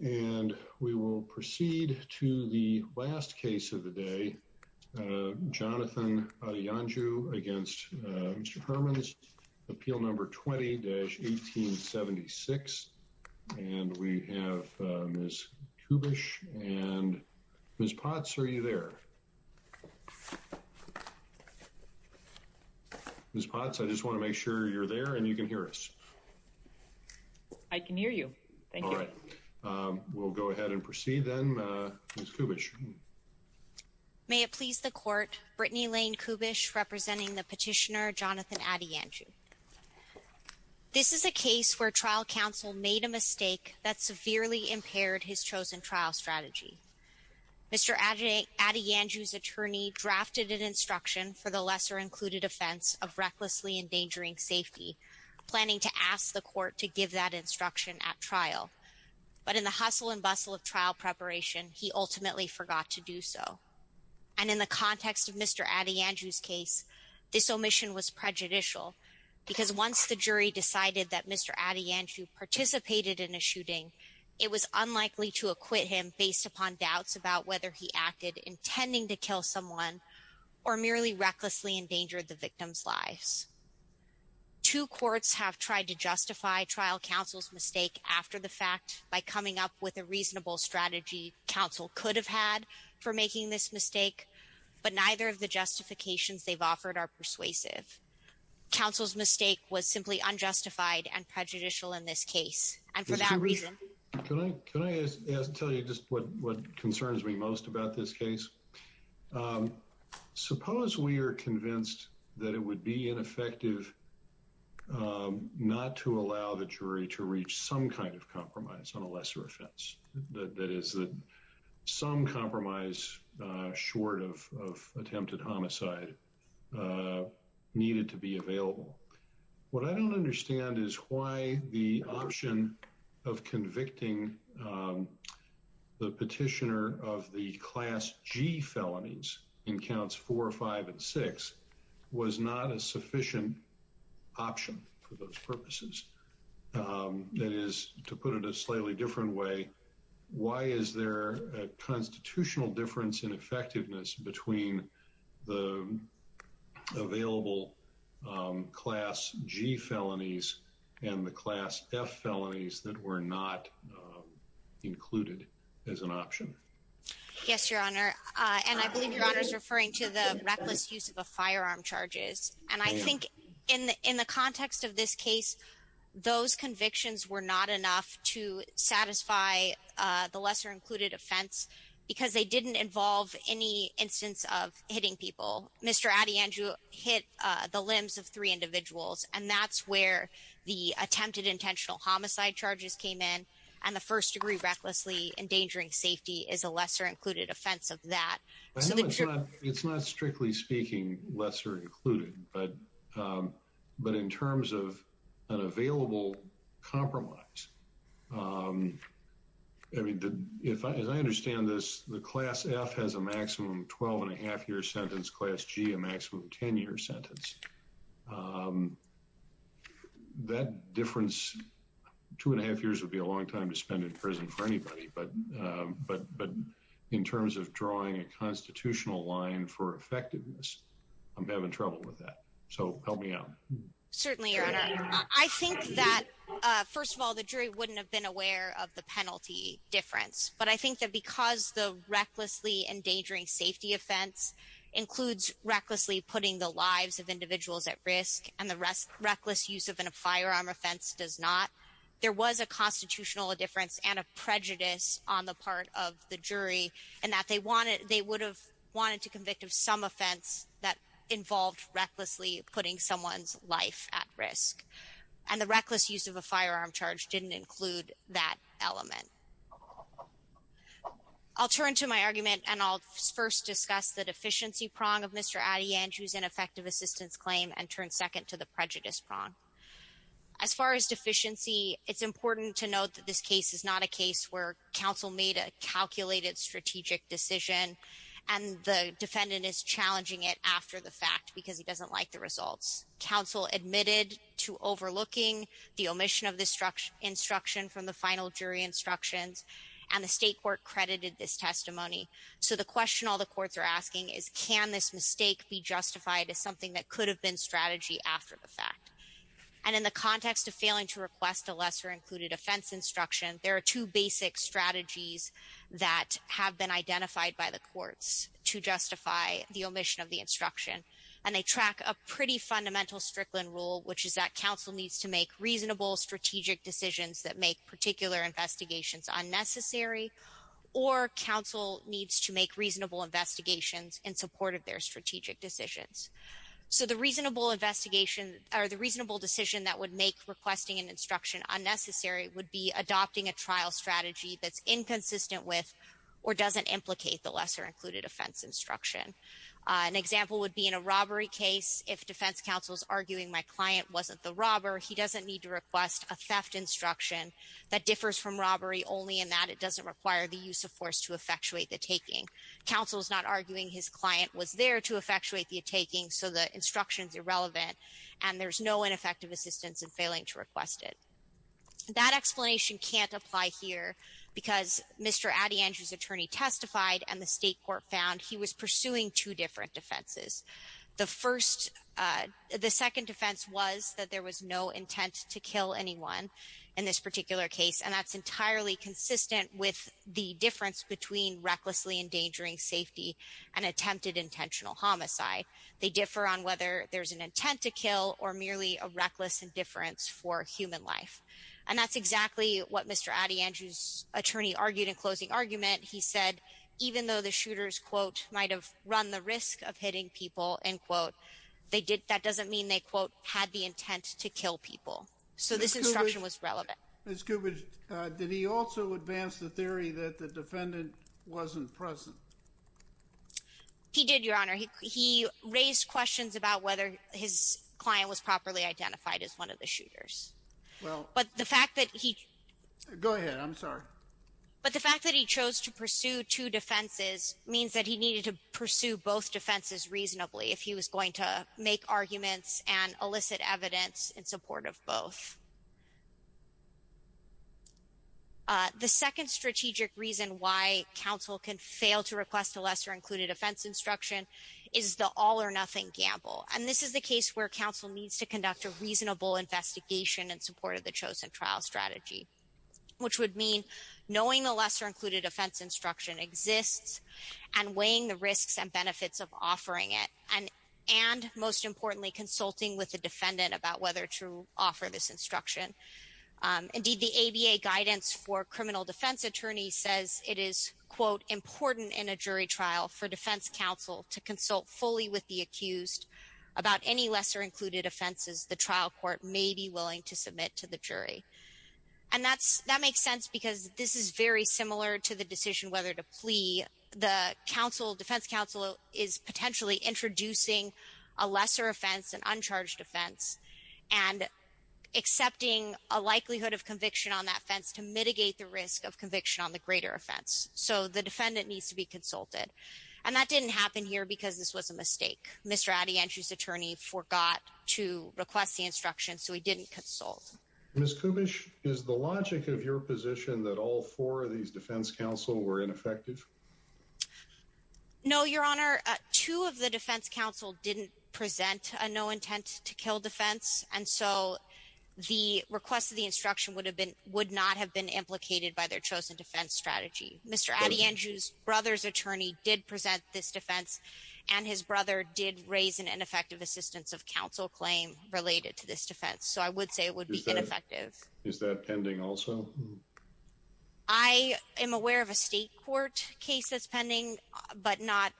and we will proceed to the last case of the day Jonathan Adeyanju against Mr. Hermans appeal number 20-1876 and we have Ms. Kubisch and Ms. Potts are you there? Ms. Potts I just want to make sure you're there and you can hear us. I can hear you. All right we'll go ahead and proceed then. Ms. Kubisch. May it please the court Brittany Lane Kubisch representing the petitioner Jonathan Adeyanju. This is a case where trial counsel made a mistake that severely impaired his chosen trial strategy. Mr. Adeyanju's attorney drafted an instruction for the lesser included offense of recklessly endangering safety planning to ask the court to give that instruction at trial but in the hustle and bustle of trial preparation he ultimately forgot to do so and in the context of Mr. Adeyanju's case this omission was prejudicial because once the jury decided that Mr. Adeyanju participated in a shooting it was unlikely to acquit him based upon doubts about whether he acted intending to kill someone or merely recklessly endangered the victim's lives. Two courts have tried to justify trial counsel's mistake after the fact by coming up with a reasonable strategy counsel could have had for making this mistake but neither of the justifications they've offered are persuasive. Counsel's mistake was simply unjustified and prejudicial in this case and for that reason. Can I tell you just what concerns me most about this case? Suppose we are convinced that it would be ineffective not to allow the jury to reach some kind of compromise on a lesser offense that is that some compromise short of attempted homicide needed to be available. What I don't understand is why the option of the petitioner of the class G felonies in counts four five and six was not a sufficient option for those purposes. That is to put it a slightly different way why is there a constitutional difference in effectiveness between the an option. Yes your honor and I believe your honor is referring to the reckless use of a firearm charges and I think in in the context of this case those convictions were not enough to satisfy the lesser included offense because they didn't involve any instance of hitting people. Mr. Adeyanju hit the limbs of three individuals and that's where the attempted intentional homicide charges came in and the first degree recklessly endangering safety is a lesser included offense of that. It's not strictly speaking lesser included but but in terms of an available compromise I mean did if I understand this the class F has a maximum twelve and a half year sentence class G a maximum ten year sentence that difference two and a half years would be a long time to spend in prison for anybody but but but in terms of drawing a constitutional line for effectiveness I'm having trouble with that so help me out. Certainly your honor I think that first of all the jury wouldn't have been aware of the penalty difference but I think that because the recklessly endangering safety offense includes recklessly putting the lives of individuals at risk and the rest reckless use of an a firearm offense does not there was a constitutional difference and a prejudice on the part of the jury and that they wanted they would have wanted to convict of some offense that involved recklessly putting someone's life at risk and the reckless use of a firearm charge didn't include that element. I'll turn to my argument and I'll first discuss the deficiency prong of Mr. Adeyanju's ineffective assistance claim and turn second to the prejudice prong. As far as deficiency it's important to note that this case is not a case where counsel made a calculated strategic decision and the defendant is challenging it after the fact because he doesn't like the results. Counsel admitted to overlooking the omission of this instruction from the final jury instructions and the state court credited this testimony so the question all the courts are asking is can this mistake be justified as something that could have been strategy after the fact and in the context of failing to request a lesser included offense instruction there are two basic strategies that have been identified by the courts to justify the omission of instruction and they track a pretty fundamental Strickland rule which is that counsel needs to make reasonable strategic decisions that make particular investigations unnecessary or counsel needs to make reasonable investigations in support of their strategic decisions. So the reasonable investigation or the reasonable decision that would make requesting an instruction unnecessary would be adopting a trial strategy that's inconsistent with or doesn't implicate the lesser included offense instruction. An example would be in a robbery case if defense counsel's arguing my client wasn't the robber he doesn't need to request a theft instruction that differs from robbery only in that it doesn't require the use of force to effectuate the taking. Counsel's not arguing his client was there to effectuate the taking so the instructions irrelevant and there's no ineffective assistance in failing to request it. That explanation can't apply here because Mr. Addy Andrews attorney testified and the state court found he was pursuing two different defenses. The first the second defense was that there was no intent to kill anyone in this particular case and that's entirely consistent with the difference between recklessly endangering safety and attempted intentional homicide. They differ on whether there's an intent to kill or merely a reckless indifference for human life and that's exactly what Mr. Addy Andrews attorney argued in his closing argument. He said even though the shooters quote might have run the risk of hitting people and quote they did that doesn't mean they quote had the intent to kill people so this instruction was relevant. Ms. Kubitsch, did he also advance the theory that the defendant wasn't present? He did your honor. He raised questions about whether his client was properly identified as one of the shooters. But the fact that he chose to pursue two defenses means that he needed to pursue both defenses reasonably if he was going to make arguments and elicit evidence in support of both. The second strategic reason why counsel can fail to request a lesser included offense instruction is the all or nothing gamble and this is the case where counsel needs to conduct a investigation in support of the chosen trial strategy which would mean knowing the lesser included offense instruction exists and weighing the risks and benefits of offering it and most importantly consulting with the defendant about whether to offer this instruction. Indeed the ABA guidance for criminal defense attorney says it is quote important in a jury trial for defense counsel to consult fully with the accused about any lesser included offenses the trial court may be willing to submit to the jury and that's that makes sense because this is very similar to the decision whether to plea the counsel defense counsel is potentially introducing a lesser offense an uncharged offense and accepting a likelihood of conviction on that fence to mitigate the risk of conviction on the greater offense so the defendant needs to be consulted and that didn't happen here because this was a mistake. Mr. Atty. Andrews attorney forgot to request the instruction so he didn't consult. Ms. Kubish is the logic of your position that all four of these defense counsel were ineffective? No your honor two of the defense counsel didn't present a no intent to kill defense and so the request of the instruction would have been would not have been implicated by their chosen defense strategy. Mr. Atty. Andrews brother's attorney did present this defense and his brother did raise an ineffective assistance of counsel claim related to this defense so I would say it would be ineffective. Is that pending also? I am aware of a state court case that's pending but not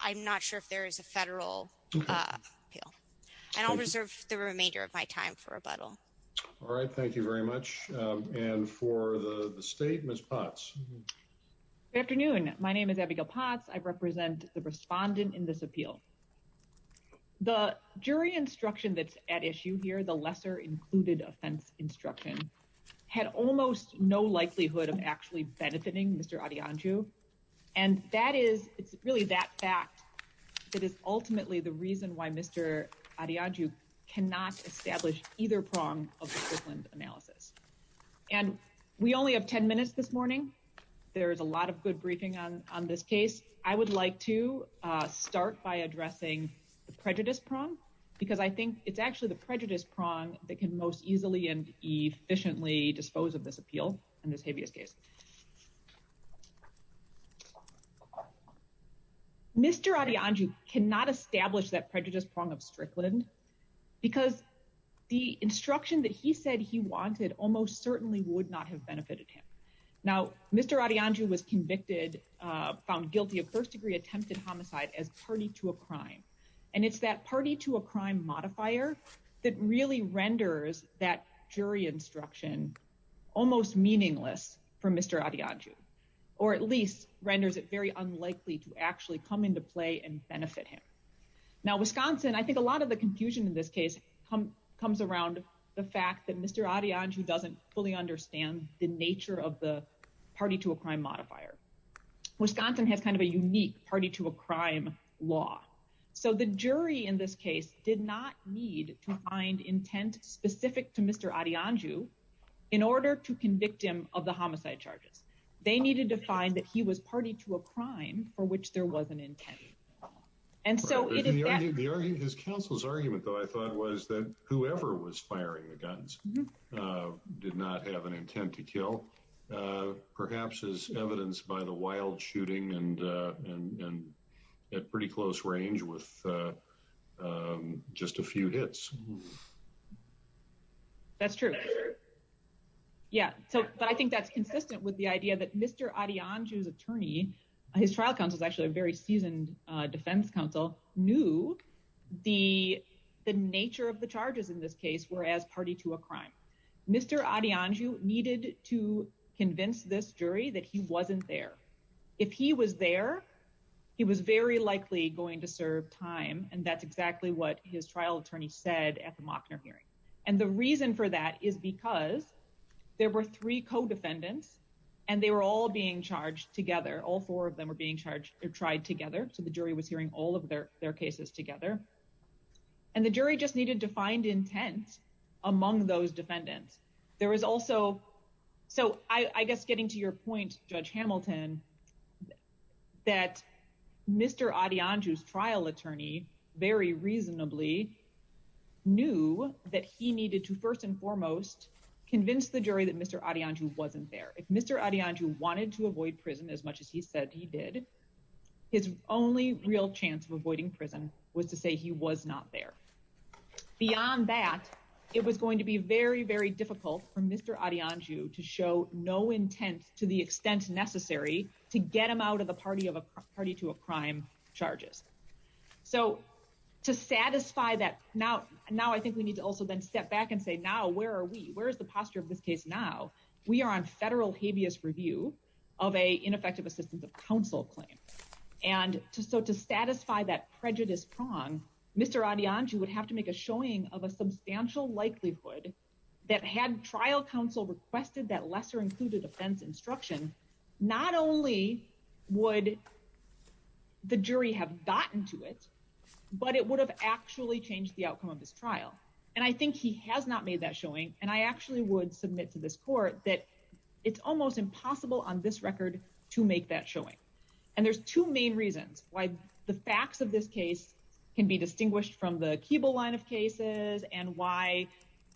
I'm not sure if there is a federal appeal and I'll reserve the remainder of my time for rebuttal. All right thank you very much and for the state Ms. Potts. Good afternoon my name is Abigail Potts I represent the respondent in this appeal. The jury instruction that's at issue here the lesser included offense instruction had almost no likelihood of actually benefiting Mr. Atty. Andrews and that is it's really that fact that is ultimately the reason why Mr. Atty. Andrews cannot establish either prong of analysis and we only have 10 minutes this morning there is a lot of good briefing on on this case I would like to start by addressing the prejudice prong because I think it's actually the prejudice prong that can most easily and efficiently dispose of this appeal in this habeas case. Mr. Atty. Andrews cannot establish that prejudice prong of Strickland because the instruction that he said he wanted almost certainly would not have benefited him. Now Mr. Atty. Andrews was convicted found guilty of first-degree attempted homicide as party to a crime and it's that party to a crime modifier that really renders that jury instruction almost meaningless for Mr. Atty. Andrews or at least renders it very unlikely to actually come into play and benefit him. Now Wisconsin I think a lot of the confusion in this case comes around the fact that Mr. Atty. Andrews doesn't fully understand the nature of the party to a crime modifier. Wisconsin has kind of a unique party to a crime law so the jury in this case did not need to find intent specific to Mr. Atty. Andrews in order to convict him of the homicide charges. They needed to find that he was party to a crime. His counsel's argument though I thought was that whoever was firing the guns did not have an intent to kill perhaps is evidenced by the wild shooting and at pretty close range with just a few hits. That's true yeah so but I think that's consistent with the idea that Mr. Atty. Andrews attorney his trial counsel is actually a very seasoned defense counsel knew the the nature of the charges in this case were as party to a crime. Mr. Atty. Andrews needed to convince this jury that he wasn't there. If he was there he was very likely going to serve time and that's exactly what his trial attorney said at the Mockner hearing and the reason for that is because there were three co-defendants and they were all being charged together. All four of them were being charged or tried together so the jury was hearing all of their their cases together and the jury just needed to find intent among those defendants. There was also so I guess getting to your point Judge Hamilton that Mr. Atty. Andrews trial attorney very reasonably knew that he needed to first and foremost convince the jury that Mr. Atty. Andrews wasn't there. If Mr. Atty. Andrews wanted to avoid prison as much as he said he did his only real chance of avoiding prison was to say he was not there. Beyond that it was going to be very very difficult for Mr. Atty. Andrews to show no intent to the extent necessary to get him out of the party of a party to a crime charges. So to satisfy that now now I think we need to also then step back and say now where are we where is the case now we are on federal habeas review of a ineffective assistance of counsel claim and so to satisfy that prejudice prong Mr. Atty. Andrews would have to make a showing of a substantial likelihood that had trial counsel requested that lesser included offense instruction not only would the jury have gotten to it but it would have actually changed the outcome of this trial and I think he has not made that showing and I actually would submit to this court that it's almost impossible on this record to make that showing and there's two main reasons why the facts of this case can be distinguished from the cable line of cases and why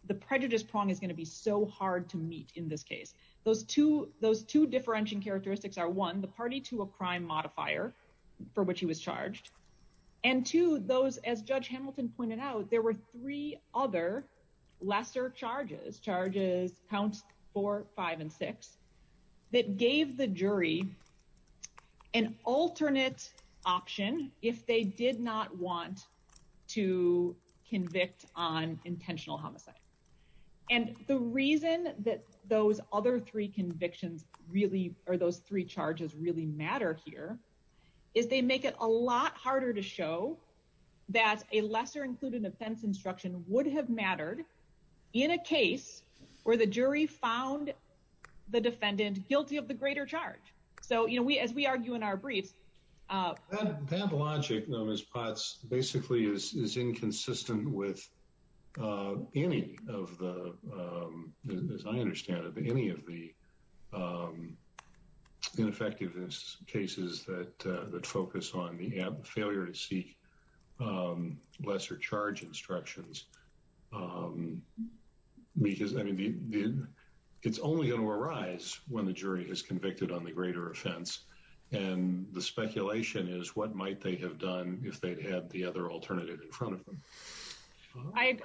the prejudice prong is going to be so hard to meet in this case those two those two differentiating characteristics are one the party to a crime modifier for which he was charged and two those as judge Hamilton pointed out there were three other lesser charges charges counts for five and six that gave the jury an alternate option if they did not want to convict on intentional homicide and the reason that those other three convictions really are those three charges really matter here is they make it a lot harder to show that a lesser included offense instruction would have mattered in a case where the jury found the defendant guilty of the greater charge so you know we as we argue in our briefs that logic known as pots basically is inconsistent with any of the as I understand it any of the ineffectiveness cases that that focus on the failure to seek lesser charge instructions because I mean it's only going to arise when the jury is convicted on the greater offense and the speculation is what might they have done if they'd had the other alternative in front of them I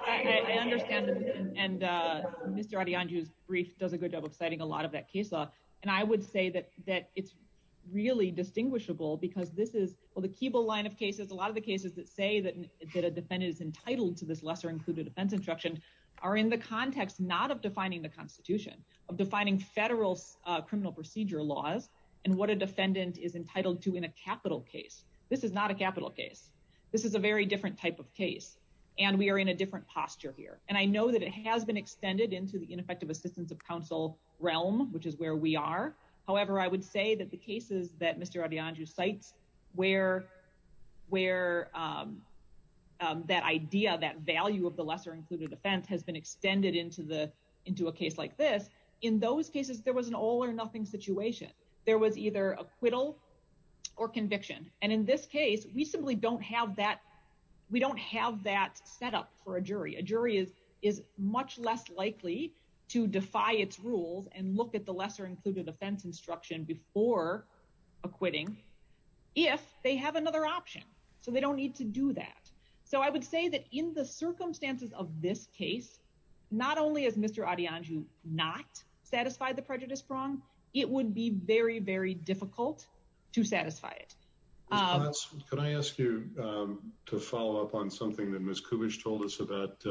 understand and mr. Adyandju's brief does a good job of citing a lot of that case law and I would say that that it's really distinguishable because this is well the Keeble line of cases a lot of the cases that say that a defendant is entitled to this lesser included offense instruction are in the context not of defining the Constitution of defining federal criminal procedure laws and what a defendant is entitled to in a capital case this is not a capital case this is a very different type of case and we are in a different posture here and I know that it has been extended into the ineffective assistance of counsel realm which is where we are however I would say that the cases that mr. Adyandju cites where where that idea that value of the lesser included offense has been extended into the into a case like this in those cases there was an all-or-nothing situation there was either acquittal or conviction and in this case we simply don't have that we don't have that setup for a jury a jury is is much less likely to defy its rules and look at the lesser included offense instruction before acquitting if they have another option so they don't need to do that so I would say that in the circumstances of this case not only as mr. Adyandju not satisfied the prejudice prong it would be very very difficult to satisfy it can I ask you to follow up on something that Miss Kubitsch told us about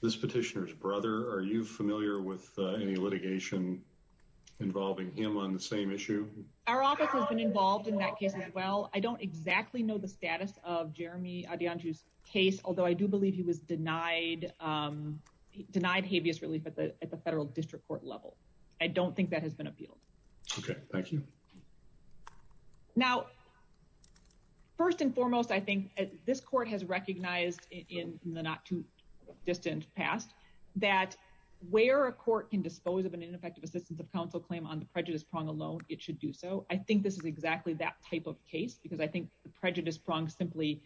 this petitioner's brother are you familiar with any litigation involving him on the same issue our office has been involved in that case as well I don't exactly know the status of Jeremy Adyandju's case although I do believe he was denied denied habeas relief at the federal district court level I don't think that has been appealed okay thank you now first and foremost I think this court has recognized in the not too distant past that where a court can dispose of an ineffective assistance of counsel claim on the prejudice prong alone it should do so I think this is exactly that type of case because I think the prejudice prong simply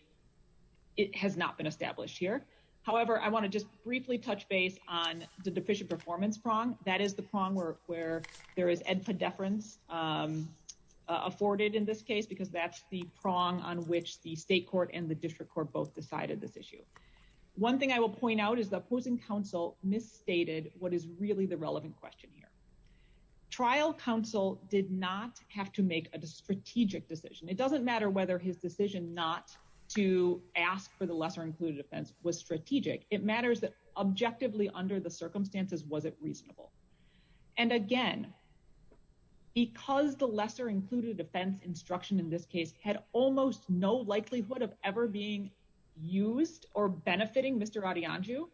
it has not been established here however I want to just briefly touch base on the deficient performance prong that is the prong work where there is edpa deference afforded in this case because that's the prong on which the state court and the district court both decided this issue one thing I will point out is the opposing counsel misstated what is really the relevant question here trial counsel did not have to make a strategic decision it doesn't matter whether his decision not to ask for the lesser-included offense was strategic it matters that objectively under the circumstances was it reasonable and again because the lesser-included offense instruction in this case had almost no likelihood of ever being used or benefiting mr. adi-anju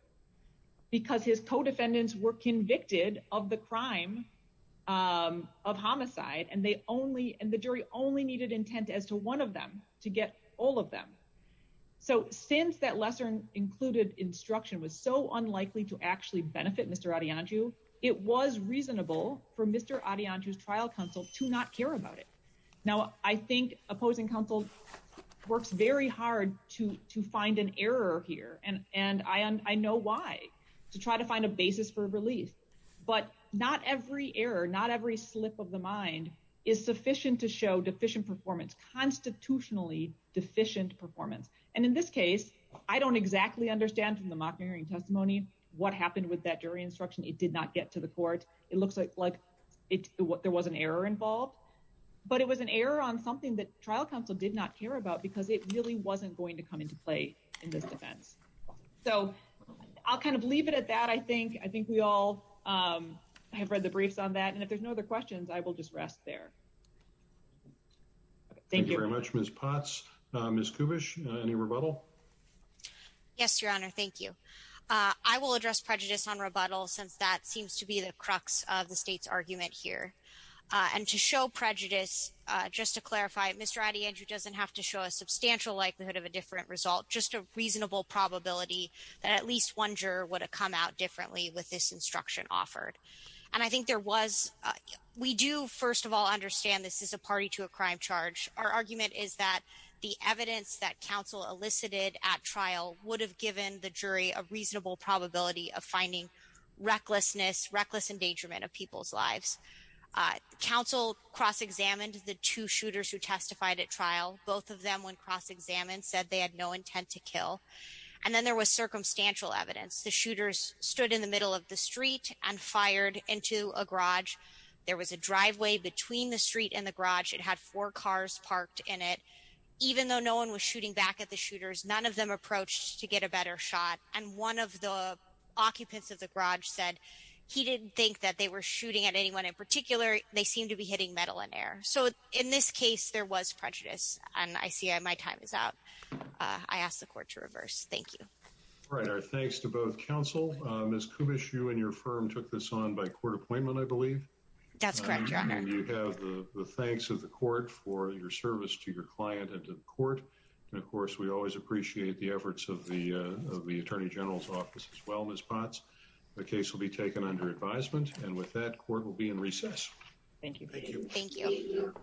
because his co-defendants were convicted of the crime of homicide and they only and the jury only needed intent as to one of them to get all of them so since that lesson included instruction was so unlikely to actually benefit mr. adi-anju it was reasonable for mr. adi-anju's trial counsel to not care about it now I think opposing counsel works very hard to to find an error here and and I and I know why to try to find a basis for relief but not every error not every slip of the mind is sufficient to show deficient performance constitutionally deficient performance and in this case I don't exactly understand from the mock hearing testimony what happened with that jury instruction it did not get to the court it looks like like it what there was an error involved but it was an error on something that trial counsel did not care about because it really wasn't going to come into play in this defense so I'll kind of leave it at that I think I think we all have read the briefs on that and if there's no other questions I will just rest there thank you very much miss Potts miss Kubitsch any rebuttal yes your honor thank you I will address prejudice on rebuttal since that seems to be the crux of the state's argument here and to show prejudice just to clarify it mr. Ady and you doesn't have to show a substantial likelihood of a different result just a reasonable probability that at least one juror would have come out differently with this instruction offered and I think there was we do first of all understand this is a party to a crime charge our argument is that the evidence that counsel elicited at trial would have given the jury a reasonable probability of finding recklessness reckless endangerment of people's lives counsel cross-examined the two shooters who testified at trial both of them went cross-examined said they had no intent to kill and then there was circumstantial evidence the shooters stood in the middle of the street and fired into a garage there was a driveway between the street and the garage it had four cars parked in it even though no one was shooting back at the shooters none of them approached to get a better shot and one of the occupants of the garage said he didn't think that they were shooting at anyone in particular they seem to be hitting metal in air so in this case there was prejudice and I see I my time is out I asked the court to reverse thank you all right our thanks to both counsel miss Kubish you and your firm took this on by court appointment I believe that's correct you have the thanks of the court for your service to your client and to the court and of course we always appreciate the efforts of the of the Attorney General's office as well miss Potts the case will be taken under advisement and with that court will be in recess thank you